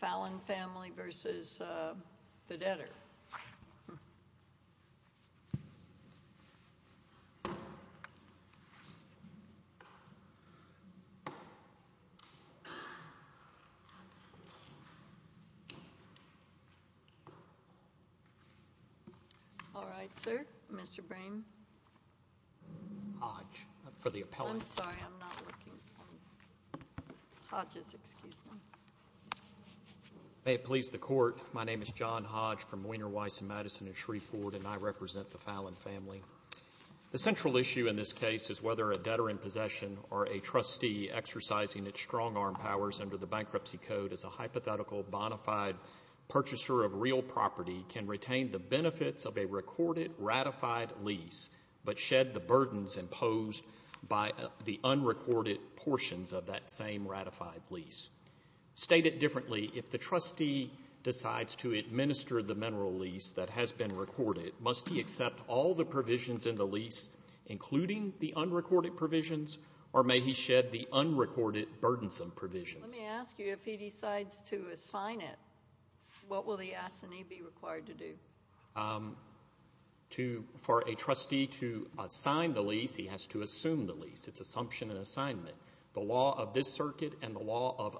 Falon Family, L.P. v. Goodrich Petroleum Corp. All right, sir. Mr. Brame. Hodge. For the appellant. I'm sorry. I'm not looking. Hodge is excused. May it please the Court. My name is John Hodge from Weiner, Weiss & Madison in Shreveport, and I represent the Falon Family. The central issue in this case is whether a debtor in possession or a trustee exercising its strong arm powers under the Bankruptcy Code as a hypothetical bonafide purchaser of real property can retain the benefits of a recorded ratified lease but shed the burdens imposed by the unrecorded portions of that same ratified lease. Stated differently, if the trustee decides to administer the mineral lease that has been recorded, must he accept all the provisions in the lease, including the unrecorded provisions, or may he shed the unrecorded burdensome provisions? Let me ask you, if he decides to assign it, what will the assignee be required to do? For a trustee to assign the lease, he has to assume the lease. It's assumption and assignment. The law of this circuit and the law of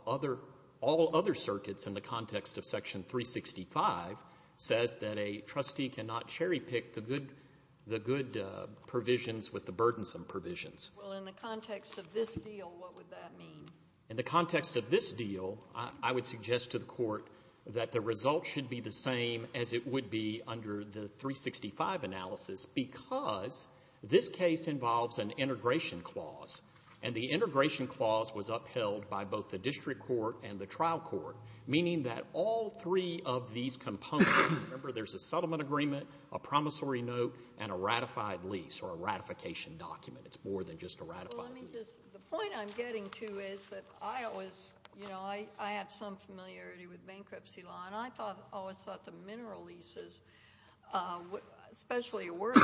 all other circuits in the context of Section 365 says that a trustee cannot cherry-pick the good provisions with the burdensome provisions. Well, in the context of this deal, what would that mean? In the context of this deal, I would suggest to the Court that the result should be the same as it would be under the 365 analysis because this case involves an integration clause, and the integration clause was upheld by both the district court and the trial court, meaning that all three of these components, remember, there's a settlement agreement, a promissory note, and a ratified lease or a ratification document. It's more than just a ratified lease. The point I'm getting to is that I have some familiarity with bankruptcy law, and I always thought the mineral leases, especially a working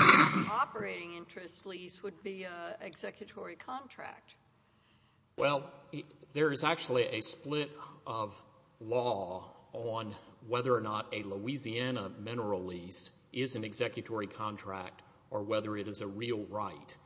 operating interest lease, would be an executory contract. Well, there is actually a split of law on whether or not a Louisiana mineral lease is an executory contract or whether it is a real right.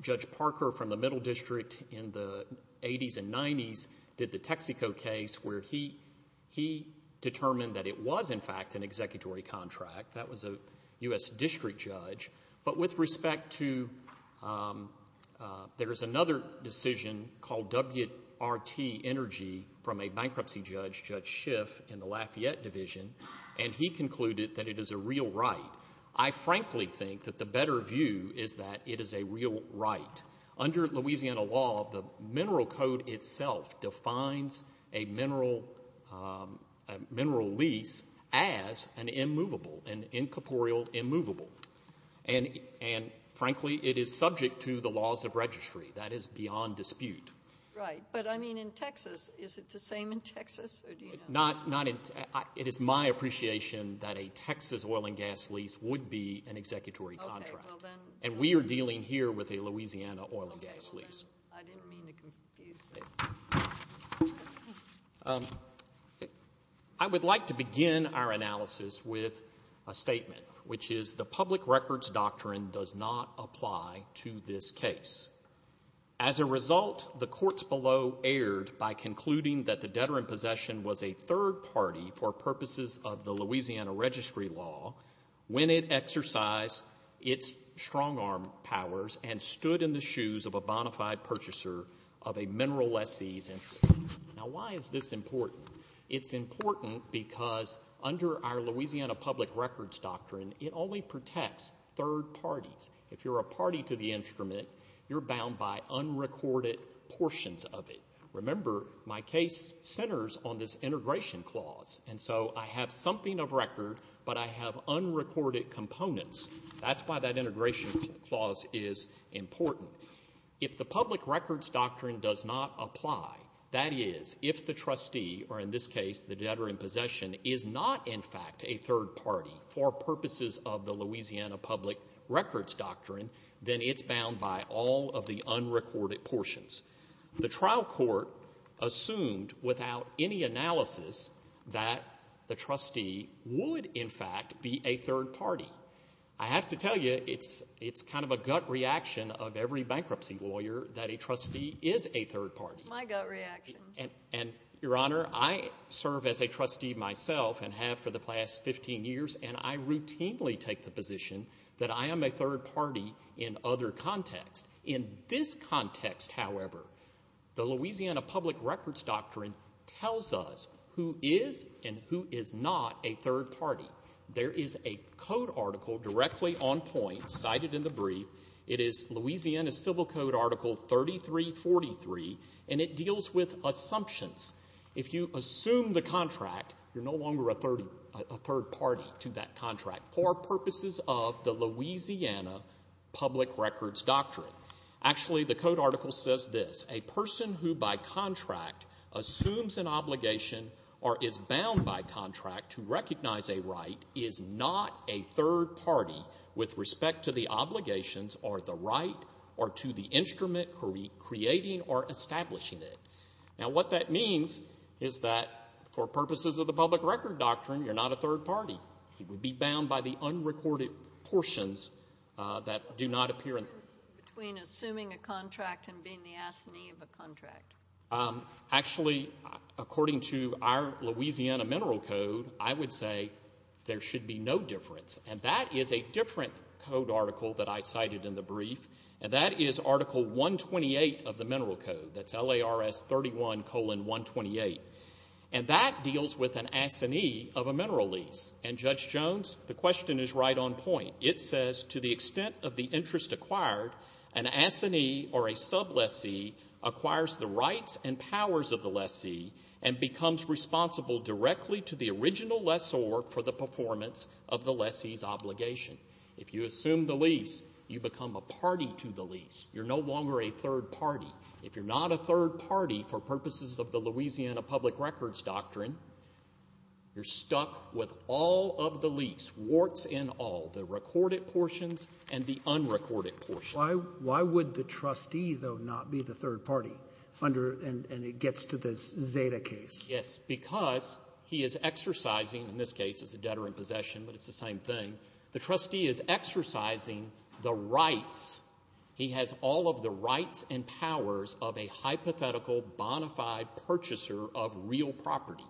Judge Parker from the Middle District in the 80s and 90s did the Texaco case where he determined that it was, in fact, an executory contract. That was a U.S. district judge. But with respect to there is another decision called WRT Energy from a bankruptcy judge, Judge Schiff, in the Lafayette Division, and he concluded that it is a real right. I frankly think that the better view is that it is a real right. Under Louisiana law, the Mineral Code itself defines a mineral lease as an immovable, an incorporeal immovable, and, frankly, it is subject to the laws of registry. That is beyond dispute. Right, but, I mean, in Texas, is it the same in Texas? It is my appreciation that a Texas oil and gas lease would be an executory contract, and we are dealing here with a Louisiana oil and gas lease. I didn't mean to confuse you. I would like to begin our analysis with a statement, which is the public records doctrine does not apply to this case. As a result, the courts below erred by concluding that the debtor in possession was a third party for purposes of the Louisiana registry law when it exercised its strong arm powers and stood in the shoes of a bona fide purchaser of a mineral lessee's interest. Now, why is this important? It's important because under our Louisiana public records doctrine, it only protects third parties. If you're a party to the instrument, you're bound by unrecorded portions of it. Remember, my case centers on this integration clause, and so I have something of record, but I have unrecorded components. That's why that integration clause is important. If the public records doctrine does not apply, that is, if the trustee, or in this case the debtor in possession, is not in fact a third party for purposes of the Louisiana public records doctrine, then it's bound by all of the unrecorded portions. The trial court assumed without any analysis that the trustee would in fact be a third party. I have to tell you it's kind of a gut reaction of every bankruptcy lawyer that a trustee is a third party. My gut reaction. And, Your Honor, I serve as a trustee myself and have for the past 15 years, and I routinely take the position that I am a third party in other contexts. In this context, however, the Louisiana public records doctrine tells us who is and who is not a third party. There is a code article directly on point cited in the brief. It is Louisiana Civil Code Article 3343, and it deals with assumptions. If you assume the contract, you're no longer a third party to that contract for purposes of the Louisiana public records doctrine. Actually, the code article says this. A person who by contract assumes an obligation or is bound by contract to recognize a right is not a third party with respect to the obligations or the right or to the instrument creating or establishing it. Now, what that means is that for purposes of the public record doctrine, you're not a third party. You would be bound by the unrecorded portions that do not appear. What is the difference between assuming a contract and being the assignee of a contract? Actually, according to our Louisiana Mineral Code, I would say there should be no difference, and that is a different code article that I cited in the brief, and that is Article 128 of the Mineral Code. That's LARS 31 colon 128, and that deals with an assignee of a mineral lease. And, Judge Jones, the question is right on point. It says, to the extent of the interest acquired, an assignee or a sublessee acquires the rights and powers of the lessee and becomes responsible directly to the original lessor for the performance of the lessee's obligation. If you assume the lease, you become a party to the lease. You're no longer a third party. If you're not a third party, for purposes of the Louisiana public records doctrine, you're stuck with all of the lease, warts and all, the recorded portions and the unrecorded portions. Why would the trustee, though, not be the third party under and it gets to this Zeta case? Yes, because he is exercising, in this case, as a debtor in possession, but it's the same thing. The trustee is exercising the rights. He has all of the rights and powers of a hypothetical bonafide purchaser of real property.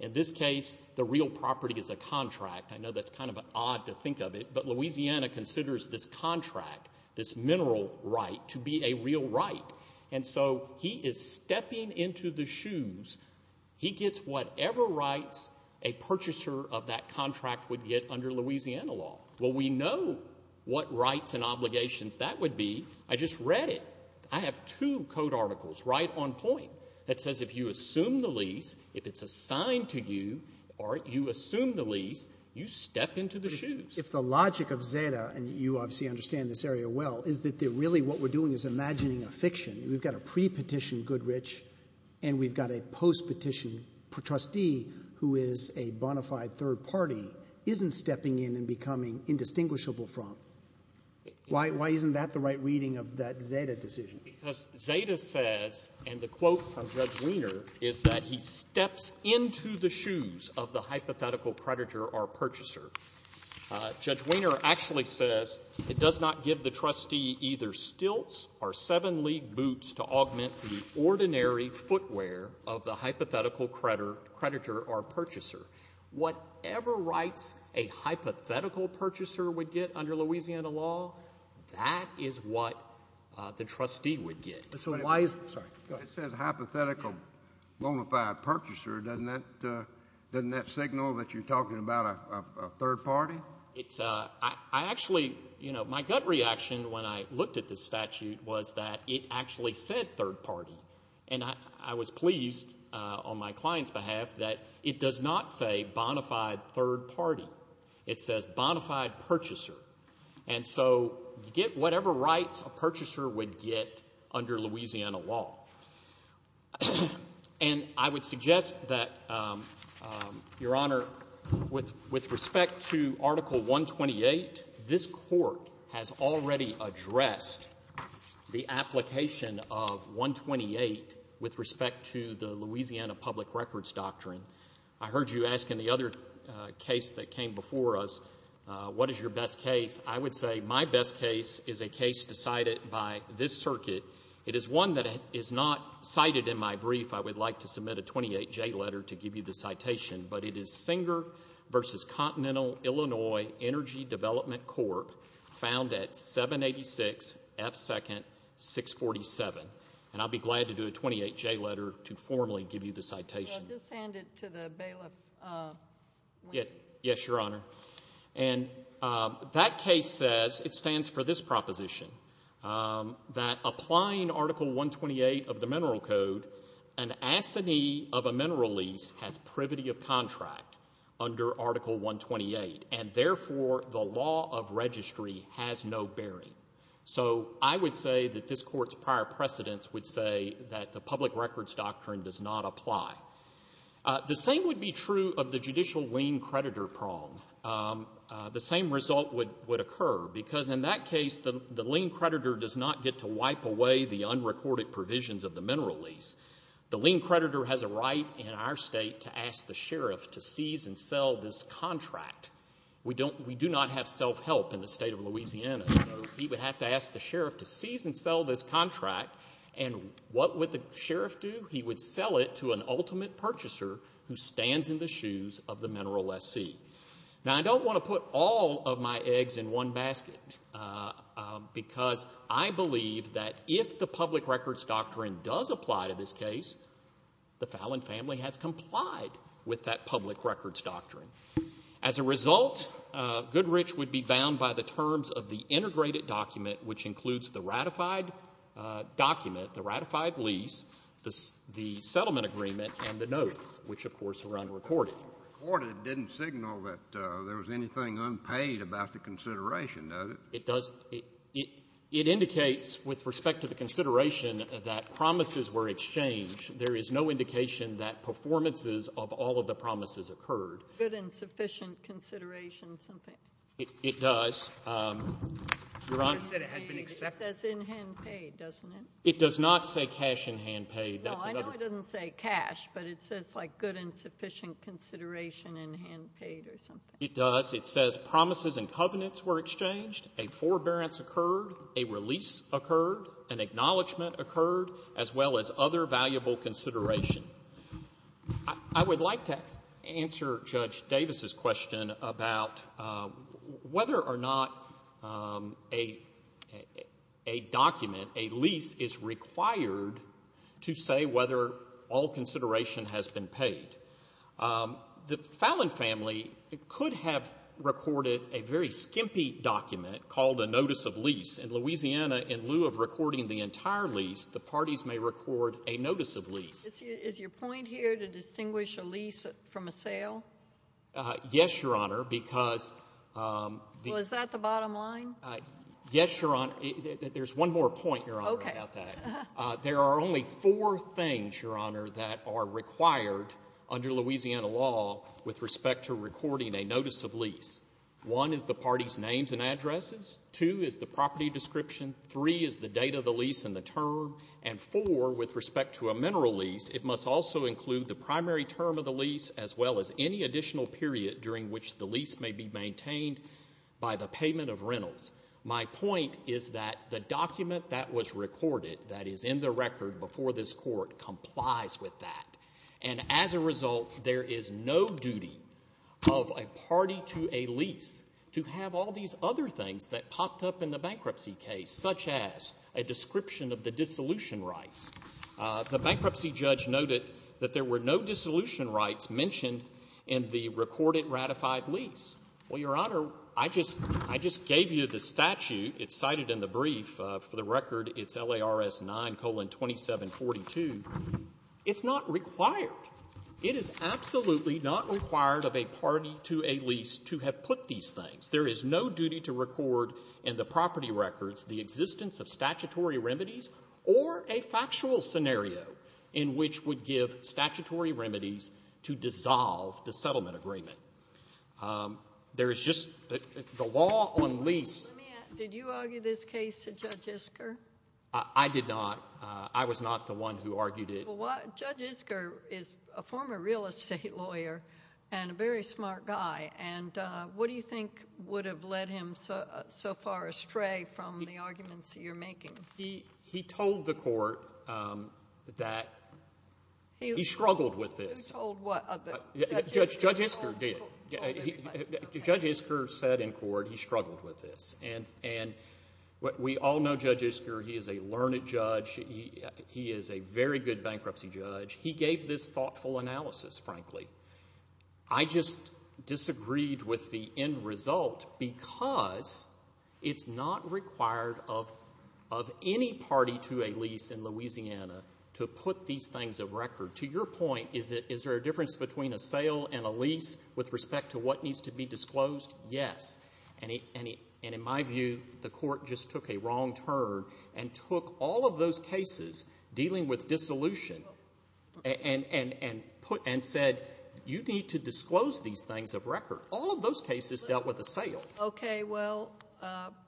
In this case, the real property is a contract. I know that's kind of odd to think of it, but Louisiana considers this contract, this mineral right, to be a real right. And so he is stepping into the shoes. He gets whatever rights a purchaser of that contract would get under Louisiana law. Well, we know what rights and obligations that would be. I just read it. I have two code articles, right on point, that says if you assume the lease, if it's assigned to you, or you assume the lease, you step into the shoes. If the logic of Zeta, and you obviously understand this area well, is that really what we're doing is imagining a fiction. We've got a pre-petition Goodrich, and we've got a post-petition trustee who is a bonafide third party, isn't stepping in and becoming indistinguishable from. Why isn't that the right reading of that Zeta decision? Because Zeta says, and the quote from Judge Wiener is that he steps into the shoes of the hypothetical predator or purchaser. Judge Wiener actually says, it does not give the trustee either stilts or seven-league boots to augment the ordinary footwear of the hypothetical predator or purchaser. Whatever rights a hypothetical purchaser would get under Louisiana law, that is what the trustee would get. So why is the ---- It says hypothetical bonafide purchaser. Doesn't that signal that you're talking about a third party? I actually, you know, my gut reaction when I looked at this statute was that it actually said third party. And I was pleased on my client's behalf that it does not say bonafide third party. It says bonafide purchaser. And so you get whatever rights a purchaser would get under Louisiana law. And I would suggest that, Your Honor, with respect to Article 128, this court has already addressed the application of 128 with respect to the Louisiana Public Records Doctrine. I heard you ask in the other case that came before us, what is your best case. I would say my best case is a case decided by this circuit. It is one that is not cited in my brief. I would like to submit a 28-J letter to give you the citation. But it is Singer v. Continental Illinois Energy Development Corp. found at 786 F2nd 647. And I'll be glad to do a 28-J letter to formally give you the citation. Well, just hand it to the bailiff. Yes, Your Honor. And that case says, it stands for this proposition, that applying Article 128 of the Mineral Code, an assignee of a mineral lease has privity of contract under Article 128, and therefore the law of registry has no bearing. So I would say that this court's prior precedence would say that the Public Records Doctrine does not apply. The same would be true of the judicial lien creditor prong. The same result would occur, because in that case the lien creditor does not get to wipe away the unrecorded provisions of the mineral lease. The lien creditor has a right in our state to ask the sheriff to seize and sell this contract. We do not have self-help in the state of Louisiana, so he would have to ask the sheriff to seize and sell this contract. And what would the sheriff do? He would sell it to an ultimate purchaser who stands in the shoes of the mineral lessee. Now, I don't want to put all of my eggs in one basket, because I believe that if the Public Records Doctrine does apply to this case, the Fallon family has complied with that Public Records Doctrine. As a result, Goodrich would be bound by the terms of the integrated document, which includes the ratified document, the ratified lease, the settlement agreement, and the note, which, of course, Your Honor, recorded. It didn't signal that there was anything unpaid about the consideration, does it? It does. It indicates with respect to the consideration that promises were exchanged. There is no indication that performances of all of the promises occurred. Good and sufficient consideration something. It does. Your Honor. It says in hand paid, doesn't it? It does not say cash in hand paid. No, I know it doesn't say cash, but it says like good and sufficient consideration in hand paid or something. It does. It says promises and covenants were exchanged, a forbearance occurred, a release occurred, an acknowledgment occurred, as well as other valuable consideration. I would like to answer Judge Davis's question about whether or not a document, a lease, is required to say whether all consideration has been paid. The Fallon family could have recorded a very skimpy document called a notice of lease. In Louisiana, in lieu of recording the entire lease, the parties may record a notice of lease. Is your point here to distinguish a lease from a sale? Yes, Your Honor, because the — Well, is that the bottom line? Yes, Your Honor. There's one more point, Your Honor, about that. Okay. There are only four things, Your Honor, that are required under Louisiana law with respect to recording a notice of lease. One is the party's names and addresses. Two is the property description. Three is the date of the lease and the term. And four, with respect to a mineral lease, it must also include the primary term of the lease as well as any additional period during which the lease may be maintained by the payment of rentals. My point is that the document that was recorded, that is in the record before this Court, complies with that. And as a result, there is no duty of a party to a lease to have all these other things that popped up in the bankruptcy case, such as a description of the dissolution rights. The bankruptcy judge noted that there were no dissolution rights mentioned in the recorded ratified lease. Well, Your Honor, I just gave you the statute. It's cited in the brief. For the record, it's LARS 9,2742. It's not required. It is absolutely not required of a party to a lease to have put these things. There is no duty to record in the property records the existence of statutory remedies or a factual scenario in which would give statutory remedies to dissolve the settlement agreement. There is just the law on lease. Let me ask, did you argue this case to Judge Isker? I did not. I was not the one who argued it. Well, Judge Isker is a former real estate lawyer and a very smart guy. And what do you think would have led him so far astray from the arguments you're making? He told the Court that he struggled with this. Judge Isker did. Judge Isker said in court he struggled with this. And we all know Judge Isker. He is a learned judge. He is a very good bankruptcy judge. He gave this thoughtful analysis, frankly. I just disagreed with the end result because it's not required of any party to a lease in Louisiana to put these things a record. To your point, is there a difference between a sale and a lease with respect to what needs to be disclosed? Yes. And in my view, the Court just took a wrong turn and took all of those cases dealing with dissolution and said you need to disclose these things of record. All of those cases dealt with a sale. Okay. Well,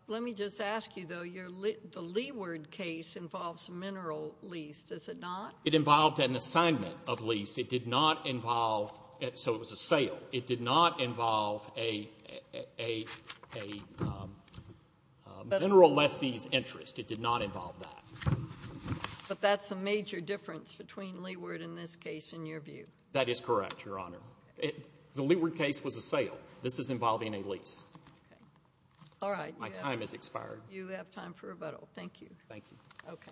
let me just ask you, though. The Leeward case involves mineral lease, does it not? It involved an assignment of lease. It did not involve so it was a sale. It did not involve a mineral lessee's interest. It did not involve that. But that's a major difference between Leeward in this case in your view. That is correct, Your Honor. The Leeward case was a sale. This is involving a lease. Okay. All right. My time has expired. You have time for rebuttal. Thank you. Thank you. Okay.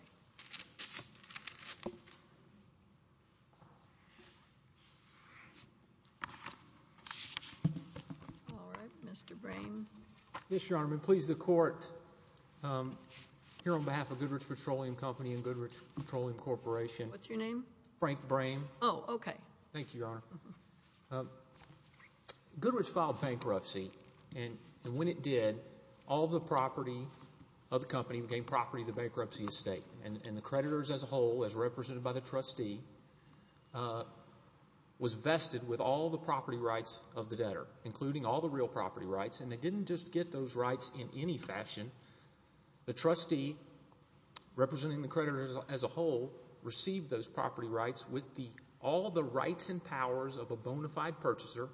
All right. Mr. Brame. Yes, Your Honor. I'm going to please the Court here on behalf of Goodrich Petroleum Company and Goodrich Petroleum Corporation. What's your name? Frank Brame. Oh, okay. Thank you, Your Honor. Goodrich filed bankruptcy and when it did, all the property of the company became property of the bankruptcy estate and the creditors as a whole, as represented by the trustee, was vested with all the property rights of the debtor, including all the real property rights, and they didn't just get those rights in any fashion. The trustee, representing the creditors as a whole, received those property rights with all the rights and powers of a bona fide purchaser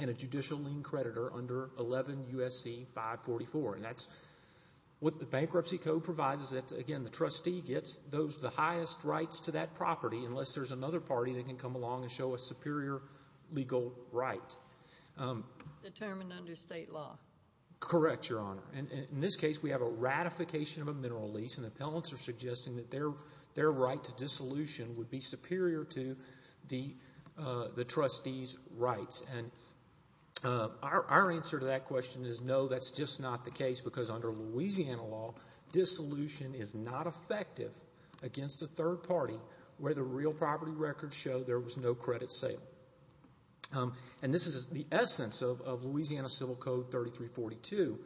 and a judicial lien creditor under 11 U.S.C. 544. And that's what the bankruptcy code provides is that, again, the trustee gets the highest rights to that property unless there's another party that can come along and show a superior legal right. Determined under state law. Correct, Your Honor. And in this case, we have a ratification of a mineral lease and the appellants are suggesting that their right to dissolution would be superior to the trustee's rights. And our answer to that question is no, that's just not the case, because under Louisiana law, dissolution is not effective against a third party where the real property records show there was no credit sale. And this is the essence of Louisiana Civil Code 3342,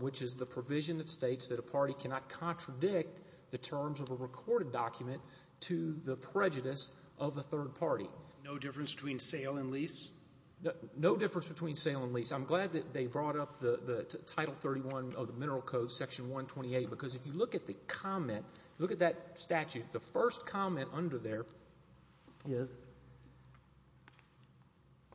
which is the provision that states that a party cannot contradict the terms of a recorded document to the prejudice of a third party. No difference between sale and lease? No difference between sale and lease. I'm glad that they brought up the Title 31 of the Mineral Code, Section 128, because if you look at the comment, look at that statute, the first comment under there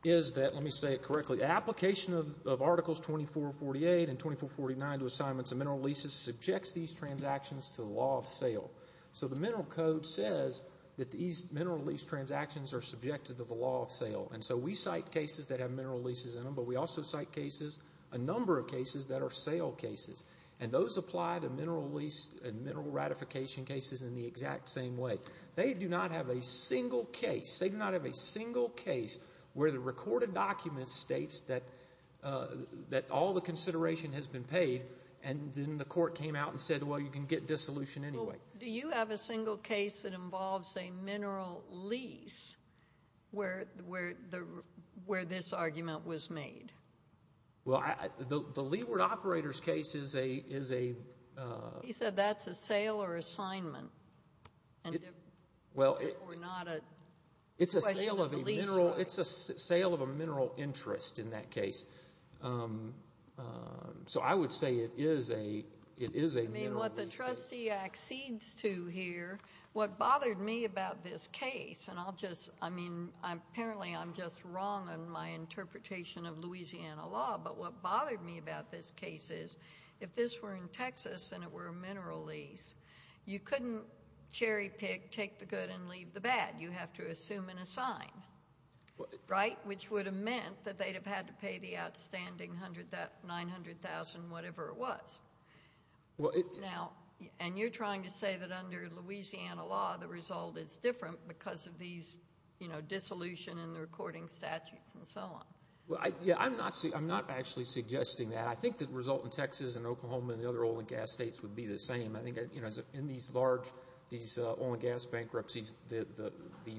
is that, let me say it correctly, application of Articles 2448 and 2449 to assignments of mineral leases subjects these transactions to the law of sale. So the Mineral Code says that these mineral lease transactions are subjected to the law of sale. And so we cite cases that have mineral leases in them, but we also cite cases, a number of cases, that are sale cases. And those apply to mineral lease and mineral ratification cases in the exact same way. They do not have a single case, they do not have a single case where the recorded document states that all the consideration has been paid and then the court came out and said, well, you can get dissolution anyway. Well, do you have a single case that involves a mineral lease where this argument was made? Well, the Leeward Operators case is a... He said that's a sale or assignment. Well... Or not a... It's a sale of a mineral interest in that case. So I would say it is a mineral lease case. I mean, what the trustee accedes to here, what bothered me about this case, and I'll just, I mean, apparently I'm just wrong in my interpretation of Louisiana law, but what bothered me about this case is if this were in Texas and it were a mineral lease, you couldn't cherry pick, take the good and leave the bad. You have to assume and assign, right? Which would have meant that they'd have had to pay the outstanding $900,000, whatever it was. Now, and you're trying to say that under Louisiana law, the result is different because of these, you know, dissolution and the recording statutes and so on. Well, yeah, I'm not actually suggesting that. I think the result in Texas and Oklahoma and the other oil and gas states would be the same. I think, you know, in these large, these oil and gas bankruptcies, the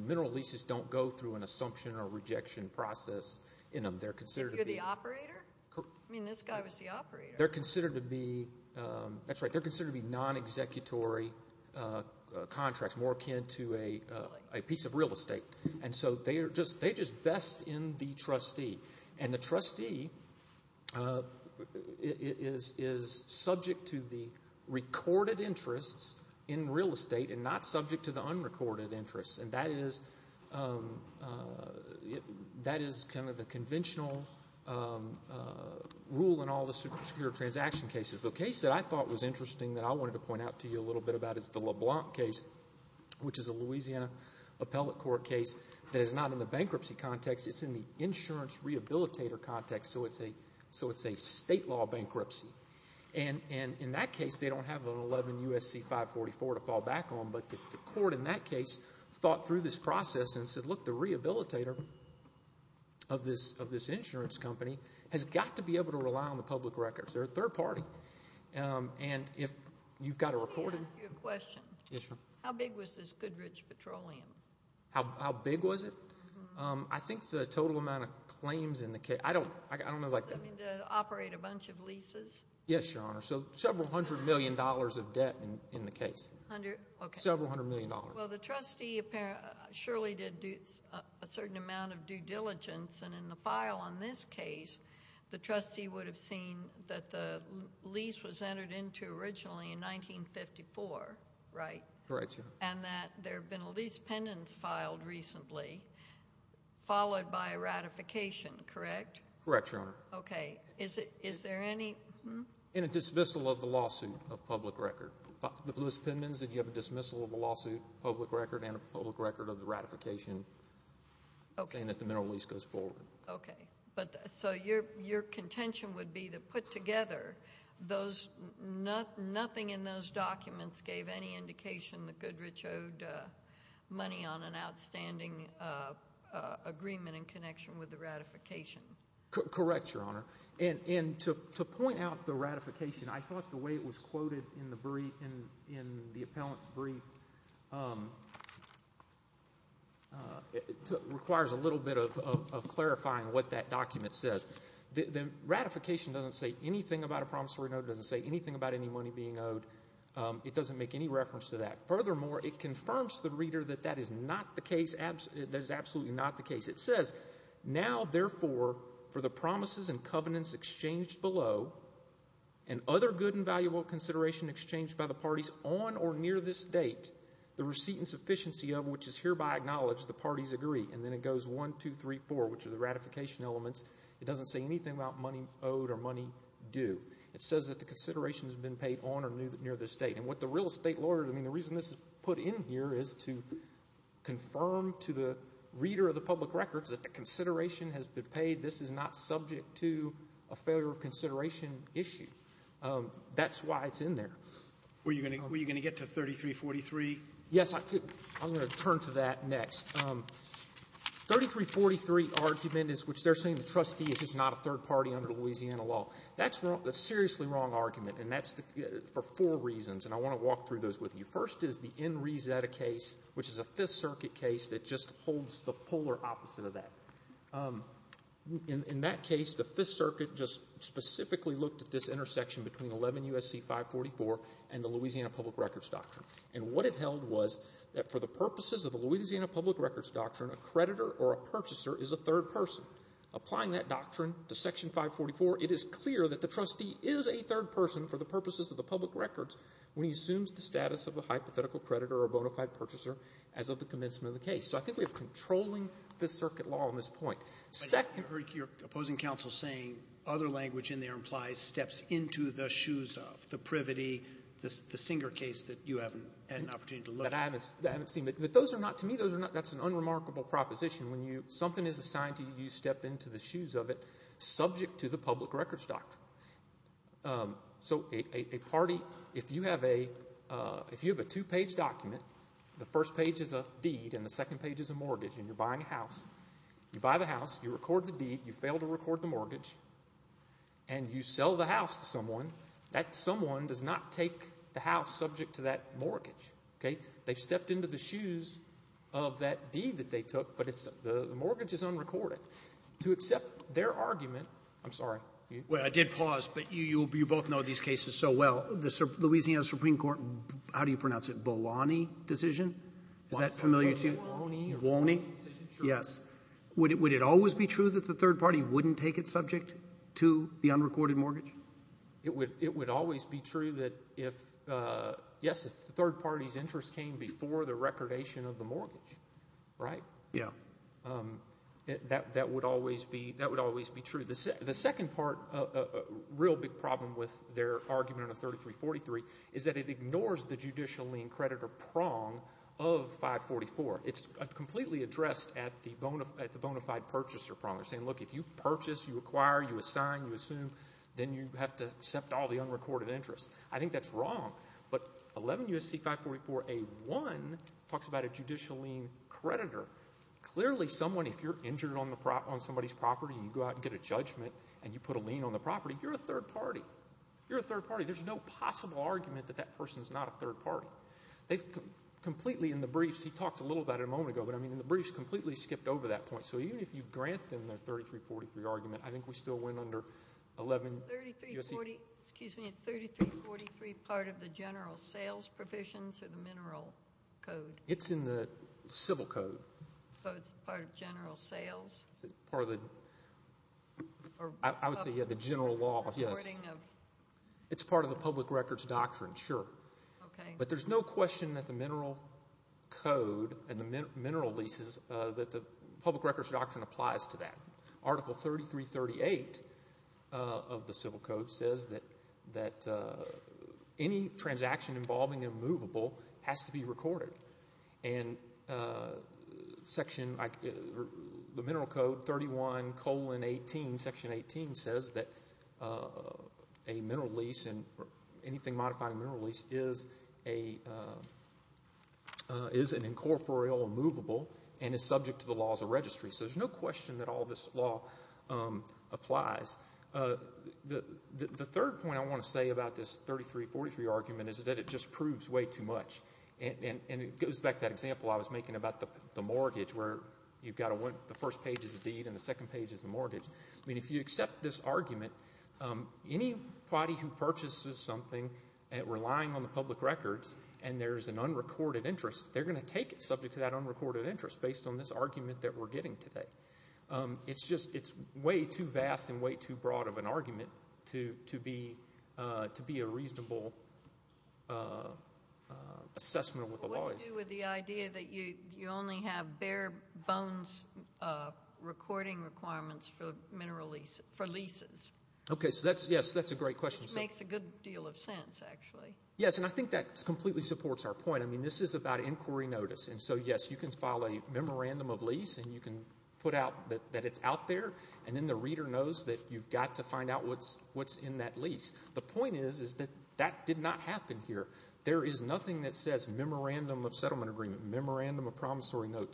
mineral leases don't go through an assumption or rejection process in them. They're considered to be... If you're the operator? I mean, this guy was the operator. They're considered to be, that's right, they're considered to be non-executory contracts, more akin to a piece of real estate. And so they just vest in the trustee. And the trustee is subject to the recorded interests in real estate and not subject to unrecorded interests. And that is kind of the conventional rule in all the secure transaction cases. The case that I thought was interesting that I wanted to point out to you a little bit about is the LeBlanc case, which is a Louisiana appellate court case that is not in the bankruptcy context. It's in the insurance rehabilitator context. So it's a state law bankruptcy. And in that case, they don't have an 11 U.S.C. 544 to fall back on, but the court in that case thought through this process and said, look, the rehabilitator of this insurance company has got to be able to rely on the public records. They're a third party. And if you've got a recorded... Let me ask you a question. Yes, ma'am. How big was this Goodrich Petroleum? How big was it? I think the total amount of claims in the case... I don't know... To operate a bunch of leases? Yes, Your Honor. So several hundred million dollars of debt in the case. Okay. Several hundred million dollars. Well, the trustee surely did a certain amount of due diligence. And in the file on this case, the trustee would have seen that the lease was entered into originally in 1954, right? Correct, Your Honor. And that there had been a lease pendants filed recently, followed by a ratification, correct? Correct, Your Honor. Okay. Is there any... And a dismissal of the lawsuit of public record. The lease pendants and you have a dismissal of the lawsuit, public record, and a public record of the ratification saying that the mineral lease goes forward. Okay. So your contention would be to put together those... Nothing in those documents gave any indication that Goodrich owed money on an outstanding agreement in connection with the ratification. Correct, Your Honor. And to point out the ratification, I thought the way it was quoted in the brief, in the appellant's brief, requires a little bit of clarifying what that document says. The ratification doesn't say anything about a promissory note. It doesn't say anything about any money being owed. It doesn't make any reference to that. Furthermore, it confirms to the reader that that is not the case, that is absolutely not the case. It says, now, therefore, for the promises and covenants exchanged below and other good and valuable consideration exchanged by the parties on or near this date, the receipt and sufficiency of which is hereby acknowledged, the parties agree. And then it goes one, two, three, four, which are the ratification elements. It doesn't say anything about money owed or money due. It says that the consideration has been paid on or near this date. And what the real estate lawyer, I mean, the reason this is put in here is to confirm to the reader of the public records that the consideration has been paid. This is not subject to a failure of consideration issue. That's why it's in there. Were you going to get to 3343? Yes. I'm going to turn to that next. 3343 argument is which they're saying the trustee is just not a third party under Louisiana law. That's a seriously wrong argument, and that's for four reasons. And I want to walk through those with you. First is the NRIZETA case, which is a Fifth Circuit case that just holds the polar opposite of that. In that case, the Fifth Circuit just specifically looked at this intersection between 11 U.S.C. 544 and the Louisiana Public Records Doctrine. And what it held was that for the purposes of the Louisiana Public Records Doctrine, a creditor or a purchaser is a third person. Applying that doctrine to Section 544, it is clear that the trustee is a third person for the purposes of the public records when he assumes the status of a hypothetical creditor or a bona fide purchaser as of the commencement of the case. So I think we have controlling Fifth Circuit law on this point. Second ---- But I've heard your opposing counsel saying other language in there implies steps into the shoes of, the privity, the Singer case that you haven't had an opportunity to look at. That I haven't seen. But those are not to me. Those are not. That's an unremarkable proposition. When something is assigned to you, you step into the shoes of it subject to the public records doctrine. So a party, if you have a two-page document, the first page is a deed and the second page is a mortgage and you're buying a house. You buy the house. You record the deed. You fail to record the mortgage. And you sell the house to someone. That someone does not take the house subject to that mortgage. Okay? They've stepped into the shoes of that deed that they took, but the mortgage is unrecorded. To accept their argument, I'm sorry. Well, I did pause, but you both know these cases so well. The Louisiana Supreme Court, how do you pronounce it? Bolani decision? Is that familiar to you? Bolani. Bolani. Yes. Would it always be true that the third party wouldn't take it subject to the unrecorded mortgage? It would always be true that if, yes, if the third party's interest came before the recordation of the mortgage, right? Yeah. That would always be true. The second part, a real big problem with their argument under 3343 is that it ignores the judicial lien creditor prong of 544. It's completely addressed at the bona fide purchaser prong. They're saying, look, if you purchase, you acquire, you assign, you assume, then you have to accept all the unrecorded interest. I think that's wrong. But 11 U.S.C. 544a1 talks about a judicial lien creditor. Clearly someone, if you're injured on somebody's property and you go out and get a judgment and you put a lien on the property, you're a third party. You're a third party. There's no possible argument that that person's not a third party. They've completely, in the briefs, he talked a little about it a moment ago, but I mean in the briefs, completely skipped over that point. So even if you grant them their 3343 argument, I think we still win under 11 U.S.C. Is 3343 part of the general sales provisions or the mineral code? It's in the civil code. So it's part of general sales? It's part of the, I would say, yeah, the general law, yes. It's part of the public records doctrine, sure. Okay. But there's no question that the mineral code and the mineral leases, that the public records doctrine applies to that. Article 3338 of the civil code says that any transaction involving a movable has to be And section, the mineral code, 31 colon 18, section 18 says that a mineral lease and anything modified in a mineral lease is an incorporeal movable and is subject to the laws of registry. So there's no question that all this law applies. The third point I want to say about this 3343 argument is that it just proves way too much. And it goes back to that example I was making about the mortgage where you've got the first page is a deed and the second page is a mortgage. I mean, if you accept this argument, anybody who purchases something relying on the public records and there's an unrecorded interest, they're going to take it subject to that unrecorded interest based on this argument that we're getting today. It's just way too vast and way too broad of an argument to be a reasonable assessment of what the law is. What do you do with the idea that you only have bare bones recording requirements for leases? Okay, so that's a great question. Which makes a good deal of sense, actually. Yes, and I think that completely supports our point. I mean, this is about inquiry notice. And so, yes, you can file a memorandum of lease, and you can put out that it's out there, and then the reader knows that you've got to find out what's in that lease. The point is that that did not happen here. There is nothing that says memorandum of settlement agreement, memorandum of promissory note,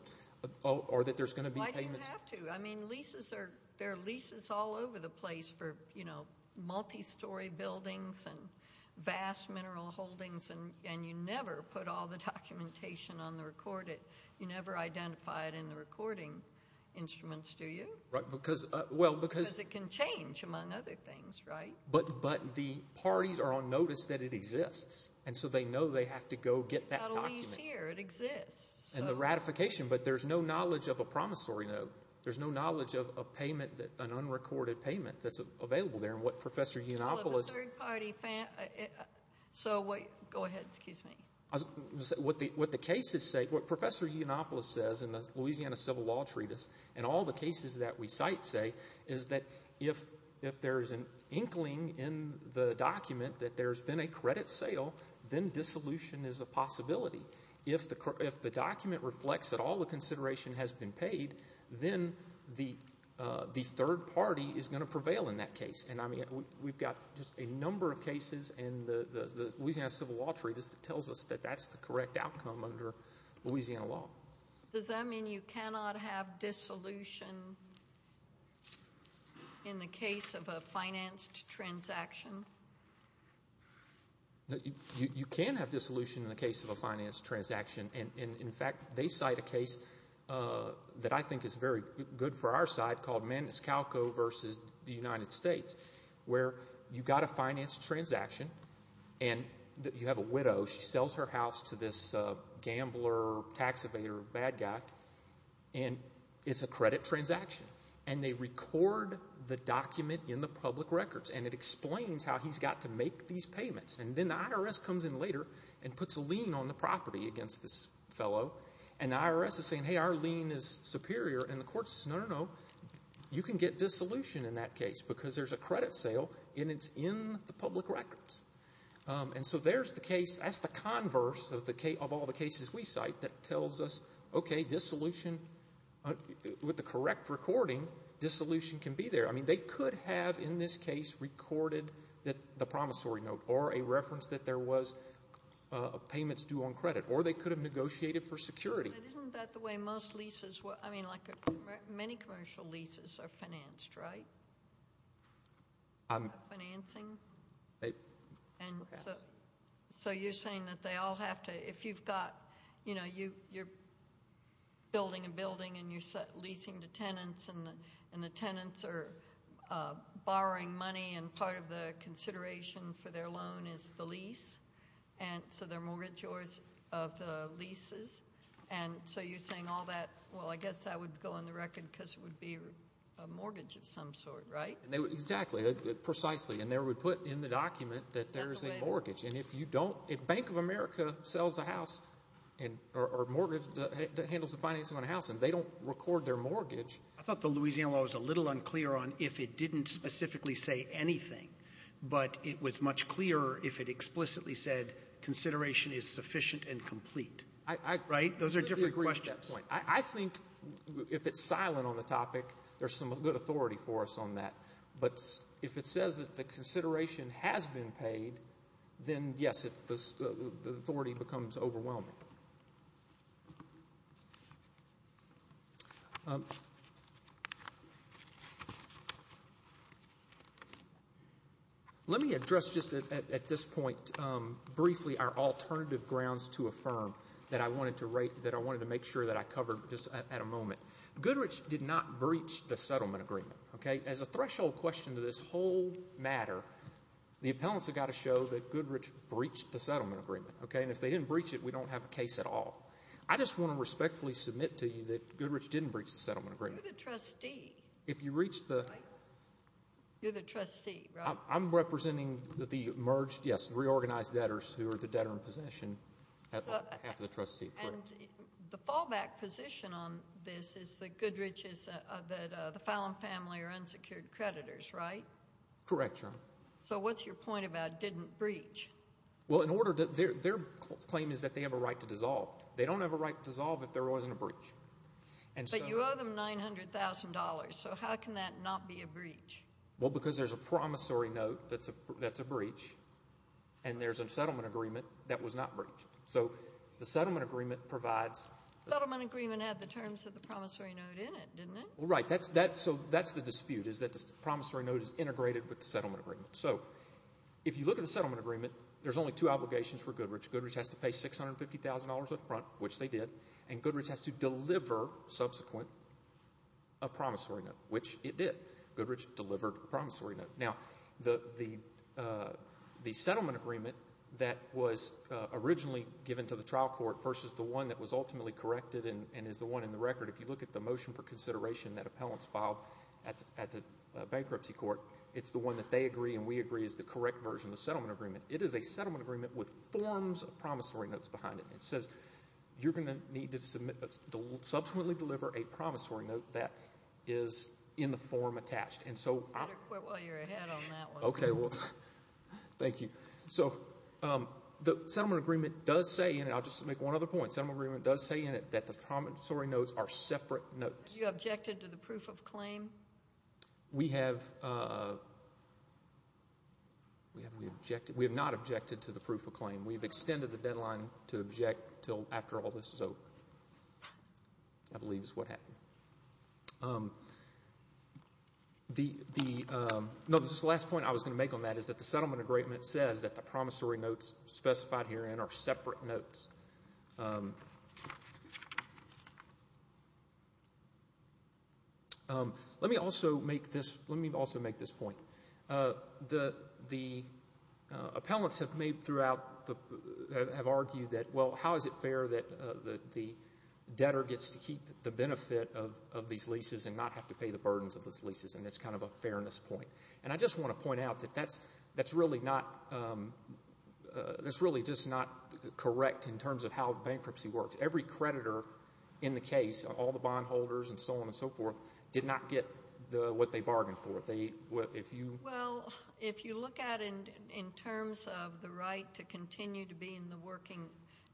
or that there's going to be payments. Well, I didn't have to. I mean, there are leases all over the place for multi-story buildings and vast mineral holdings, and you never put all the documentation on the recorded. You never identify it in the recording instruments, do you? Because it can change, among other things, right? But the parties are on notice that it exists, and so they know they have to go get that document. It's not a lease here. It exists. And the ratification, but there's no knowledge of a promissory note. There's no knowledge of a payment, an unrecorded payment that's available there. Well, the third party, so go ahead, excuse me. What the cases say, what Professor Yiannopoulos says in the Louisiana Civil Law Treatise and all the cases that we cite say is that if there's an inkling in the document that there's been a credit sale, then dissolution is a possibility. If the document reflects that all the consideration has been paid, then the third party is going to prevail in that case. And, I mean, we've got just a number of cases, and the Louisiana Civil Law Treatise tells us that that's the correct outcome under Louisiana law. Does that mean you cannot have dissolution in the case of a financed transaction? You can have dissolution in the case of a financed transaction, and, in fact, they cite a case that I think is very good for our side called Maniscalco v. The United States where you've got a financed transaction, and you have a widow. She sells her house to this gambler, tax evader, bad guy, and it's a credit transaction. And they record the document in the public records, and it explains how he's got to make these payments. And then the IRS comes in later and puts a lien on the property against this fellow, and the IRS is saying, hey, our lien is superior, and the court says, no, no, no, you can get dissolution in that case because there's a credit sale and it's in the public records. And so there's the case. That's the converse of all the cases we cite that tells us, okay, dissolution with the correct recording, dissolution can be there. I mean, they could have in this case recorded the promissory note or a reference that there was payments due on credit, or they could have negotiated for security. Isn't that the way most leases work? I mean, like many commercial leases are financed, right, by financing? So you're saying that they all have to ‑‑ if you've got, you know, you're building a building and you're leasing to tenants, and the tenants are borrowing money, and so they're mortgagors of the leases, and so you're saying all that, well, I guess that would go on the record because it would be a mortgage of some sort, right? Exactly, precisely. And they would put in the document that there's a mortgage. And if you don't ‑‑ Bank of America sells a house or handles the financing on a house, and they don't record their mortgage. I thought the Louisiana law was a little unclear on if it didn't specifically say anything, but it was much clearer if it explicitly said consideration is sufficient and complete. Right? Those are different questions. I think if it's silent on the topic, there's some good authority for us on that. But if it says that the consideration has been paid, then, yes, the authority becomes overwhelming. Let me address just at this point briefly our alternative grounds to affirm that I wanted to make sure that I covered just at a moment. Goodrich did not breach the settlement agreement, okay? As a threshold question to this whole matter, the appellants have got to show that Goodrich breached the settlement agreement, okay? And if they didn't breach it, we don't have a case at all. I just want to respectfully submit to you that Goodrich didn't breach the settlement agreement. You're the trustee. You're the trustee, right? I'm representing the merged, yes, reorganized debtors who are the debtor in possession, half of the trustee. The fallback position on this is that Goodrich is the Fallon family are unsecured creditors, right? Correct, Your Honor. So what's your point about didn't breach? Well, their claim is that they have a right to dissolve. They don't have a right to dissolve if there wasn't a breach. But you owe them $900,000. So how can that not be a breach? Well, because there's a promissory note that's a breach, and there's a settlement agreement that was not breached. So the settlement agreement provides— The settlement agreement had the terms of the promissory note in it, didn't it? Well, right. So that's the dispute is that the promissory note is integrated with the settlement agreement. So if you look at the settlement agreement, there's only two obligations for Goodrich. Goodrich has to pay $650,000 up front, which they did, and Goodrich has to deliver subsequent a promissory note, which it did. Goodrich delivered a promissory note. Now, the settlement agreement that was originally given to the trial court versus the one that was ultimately corrected and is the one in the record, if you look at the motion for consideration that appellants filed at the bankruptcy court, it's the one that they agree and we agree is the correct version of the settlement agreement. It is a settlement agreement with forms of promissory notes behind it. It says you're going to need to subsequently deliver a promissory note that is in the form attached. And so— You better quit while you're ahead on that one. Okay, well, thank you. So the settlement agreement does say, and I'll just make one other point, settlement agreement does say in it that the promissory notes are separate notes. You objected to the proof of claim? We have not objected to the proof of claim. We've extended the deadline to object until after all this is over, I believe is what happened. The—no, this last point I was going to make on that is that the settlement agreement says that the promissory notes specified herein are separate notes. Let me also make this—let me also make this point. The appellants have made throughout—have argued that, well, how is it fair that the debtor gets to keep the benefit of these leases and not have to pay the burdens of those leases, and it's kind of a fairness point. And I just want to point out that that's really not—that's really just not correct in terms of how bankruptcy works. Every creditor in the case, all the bondholders and so on and so forth, did not get what they bargained for. They—if you— Well, if you look at it in terms of the right to continue to be in the working—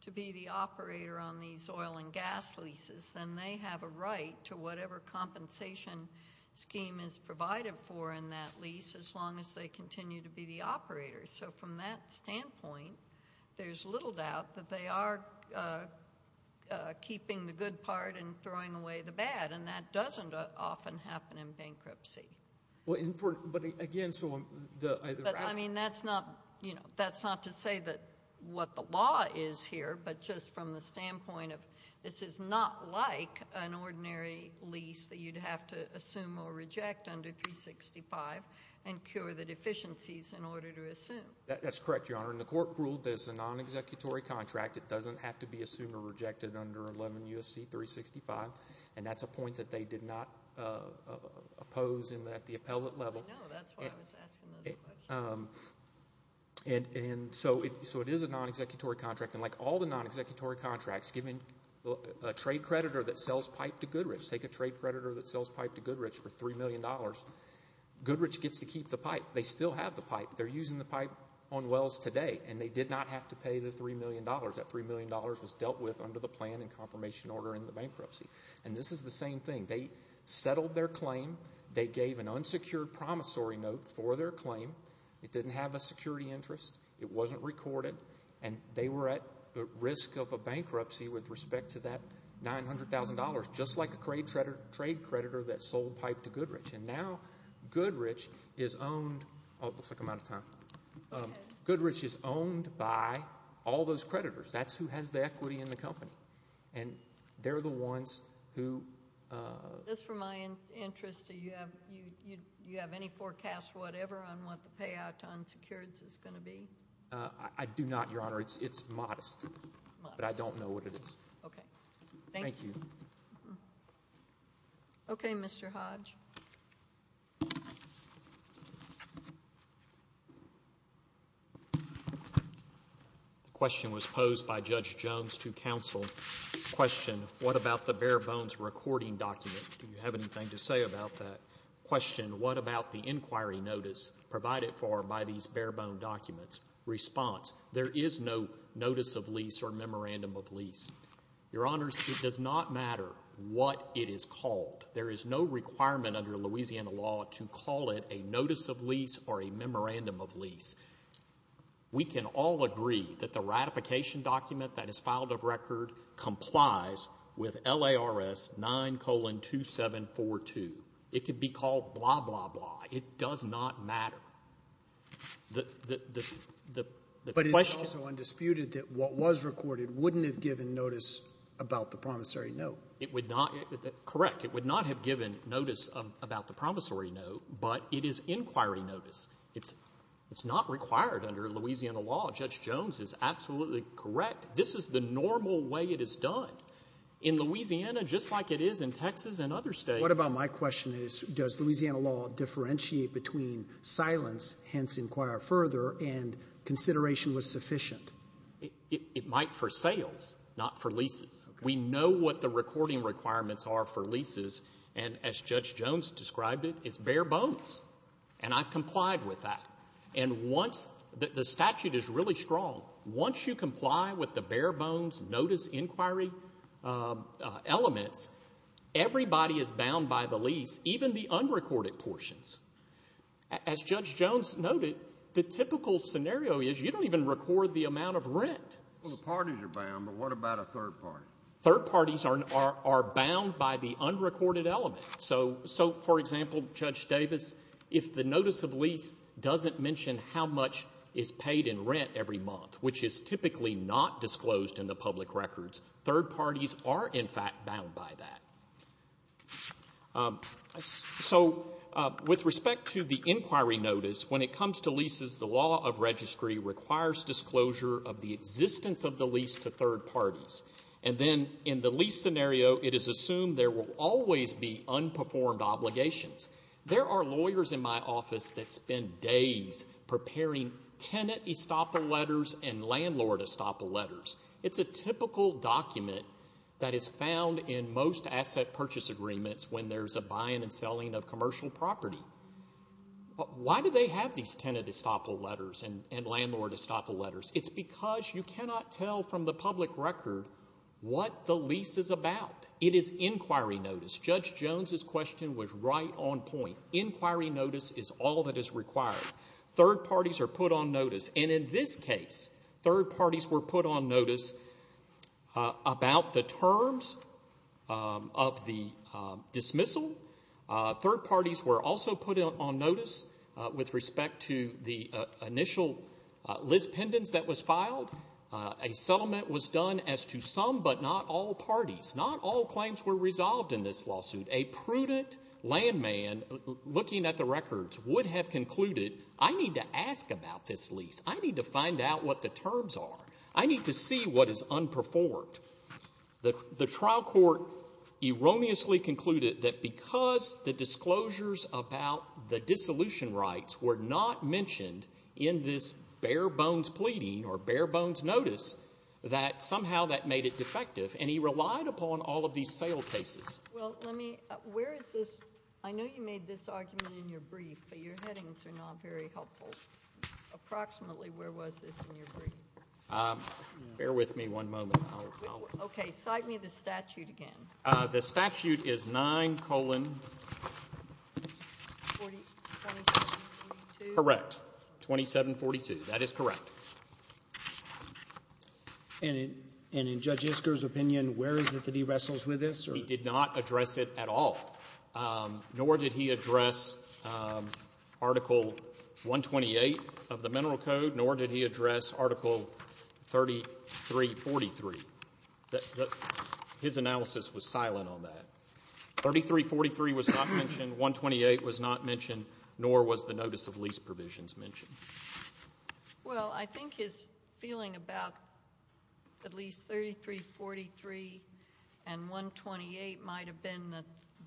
to be the operator on these oil and gas leases, then they have a right to whatever compensation scheme is provided for in that lease as long as they continue to be the operators. So from that standpoint, there's little doubt that they are keeping the good part and throwing away the bad, and that doesn't often happen in bankruptcy. Well, and for—but again, so the— But, I mean, that's not—you know, that's not to say that what the law is here, but just from the standpoint of this is not like an ordinary lease that you'd have to assume or reject under 365 and cure the deficiencies in order to assume. That's correct, Your Honor, and the court ruled that it's a non-executory contract. It doesn't have to be assumed or rejected under 11 U.S.C. 365, and that's a point that they did not oppose at the appellate level. I know. That's why I was asking those questions. And so it is a non-executory contract, and like all the non-executory contracts, given a trade creditor that sells pipe to Goodrich, take a trade creditor that sells pipe to Goodrich for $3 million, Goodrich gets to keep the pipe. They still have the pipe. They're using the pipe on wells today, and they did not have to pay the $3 million. That $3 million was dealt with under the plan and confirmation order in the bankruptcy, and this is the same thing. They settled their claim. They gave an unsecured promissory note for their claim. It didn't have a security interest. It wasn't recorded, and they were at risk of a bankruptcy with respect to that $900,000, just like a trade creditor that sold pipe to Goodrich, and now Goodrich is owned by all those creditors. That's who has the equity in the company, and they're the ones who... Just for my interest, do you have any forecast, whatever, on what the payout to unsecureds is going to be? I do not, Your Honor. It's modest, but I don't know what it is. Okay. Thank you. Thank you. Okay, Mr. Hodge. The question was posed by Judge Jones to counsel. Question, what about the bare-bones recording document? Do you have anything to say about that? Question, what about the inquiry notice provided for by these bare-bone documents? Response, there is no notice of lease or memorandum of lease. Your Honors, it does not matter what it is called. There is no requirement under Louisiana law to call it a notice of lease or a memorandum of lease. We can all agree that the ratification document that is filed of record complies with LARS 9-2742. It could be called blah, blah, blah. It does not matter. But it's also undisputed that what was recorded wouldn't have given notice about the promissory note. Correct. It would not have given notice about the promissory note, but it is inquiry notice. It's not required under Louisiana law. Judge Jones is absolutely correct. This is the normal way it is done. In Louisiana, just like it is in Texas and other states. What about my question is, does Louisiana law differentiate between silence, hence inquire further, and consideration was sufficient? It might for sales, not for leases. We know what the recording requirements are for leases, and as Judge Jones described it, it's bare-bones. And I've complied with that. And once the statute is really strong, once you comply with the bare-bones notice inquiry elements, everybody is bound by the lease, even the unrecorded portions. As Judge Jones noted, the typical scenario is you don't even record the amount of rent. Well, the parties are bound, but what about a third party? Third parties are bound by the unrecorded element. So, for example, Judge Davis, if the notice of lease doesn't mention how much is paid in rent every month, which is typically not disclosed in the public records, third parties are, in fact, bound by that. So with respect to the inquiry notice, when it comes to leases, the law of registry requires disclosure of the existence of the lease to third parties. And then in the lease scenario, it is assumed there will always be unperformed obligations. There are lawyers in my office that spend days preparing tenant estoppel letters and landlord estoppel letters. It's a typical document that is found in most asset purchase agreements when there's a buying and selling of commercial property. Why do they have these tenant estoppel letters and landlord estoppel letters? It's because you cannot tell from the public record what the lease is about. It is inquiry notice. Judge Jones' question was right on point. Inquiry notice is all that is required. Third parties are put on notice. And in this case, third parties were put on notice about the terms of the dismissal. Third parties were also put on notice with respect to the initial list pendants that was filed. A settlement was done as to some but not all parties. Not all claims were resolved in this lawsuit. A prudent landman looking at the records would have concluded, I need to ask about this lease. I need to find out what the terms are. I need to see what is unperformed. The trial court erroneously concluded that because the disclosures about the dissolution rights were not mentioned in this bare-bones pleading or bare-bones notice, that somehow that made it defective. And he relied upon all of these sale cases. Well, let me – where is this? I know you made this argument in your brief, but your headings are not very helpful. Approximately where was this in your brief? Bear with me one moment. Okay. Cite me the statute again. The statute is 9 colon – 4742. Correct. 2742. That is correct. And in Judge Isker's opinion, where is it that he wrestles with this? He did not address it at all. Nor did he address Article 128 of the Mineral Code, nor did he address Article 3343. His analysis was silent on that. 3343 was not mentioned. 128 was not mentioned, nor was the notice of lease provisions mentioned. Well, I think his feeling about at least 3343 and 128 might have been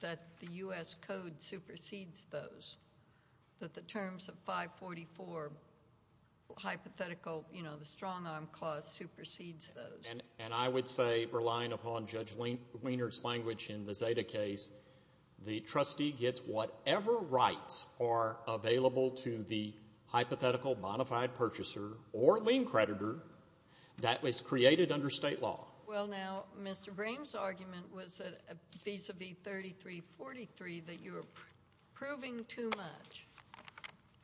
that the U.S. Code supersedes those, that the terms of 544 hypothetical, you know, the strong-arm clause supersedes those. And I would say, relying upon Judge Lienert's language in the Zeta case, the trustee gets whatever rights are available to the hypothetical modified purchaser or lien creditor that was created under state law. Well, now, Mr. Graham's argument was vis-à-vis 3343 that you were proving too much,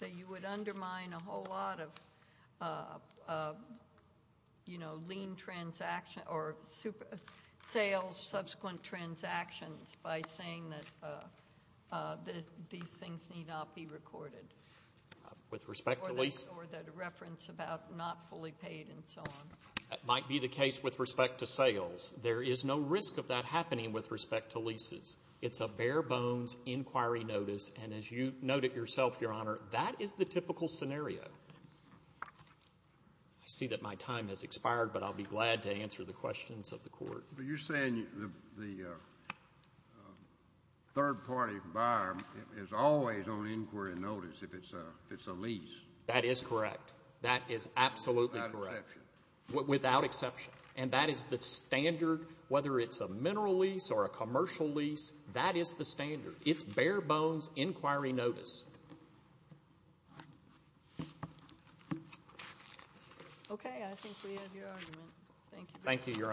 that you would undermine a whole lot of, you know, lien transactions or sales subsequent transactions by saying that these things need not be recorded. With respect to lease? Or that reference about not fully paid and so on. That might be the case with respect to sales. There is no risk of that happening with respect to leases. It's a bare-bones inquiry notice, and as you note it yourself, Your Honor, that is the typical scenario. I see that my time has expired, but I'll be glad to answer the questions of the Court. But you're saying the third-party buyer is always on inquiry notice if it's a lease. That is correct. That is absolutely correct. Without exception. Without exception. And that is the standard, whether it's a mineral lease or a commercial lease, that is the standard. It's bare-bones inquiry notice. Okay. I think we have your argument. Thank you. Thank you, Your Honor.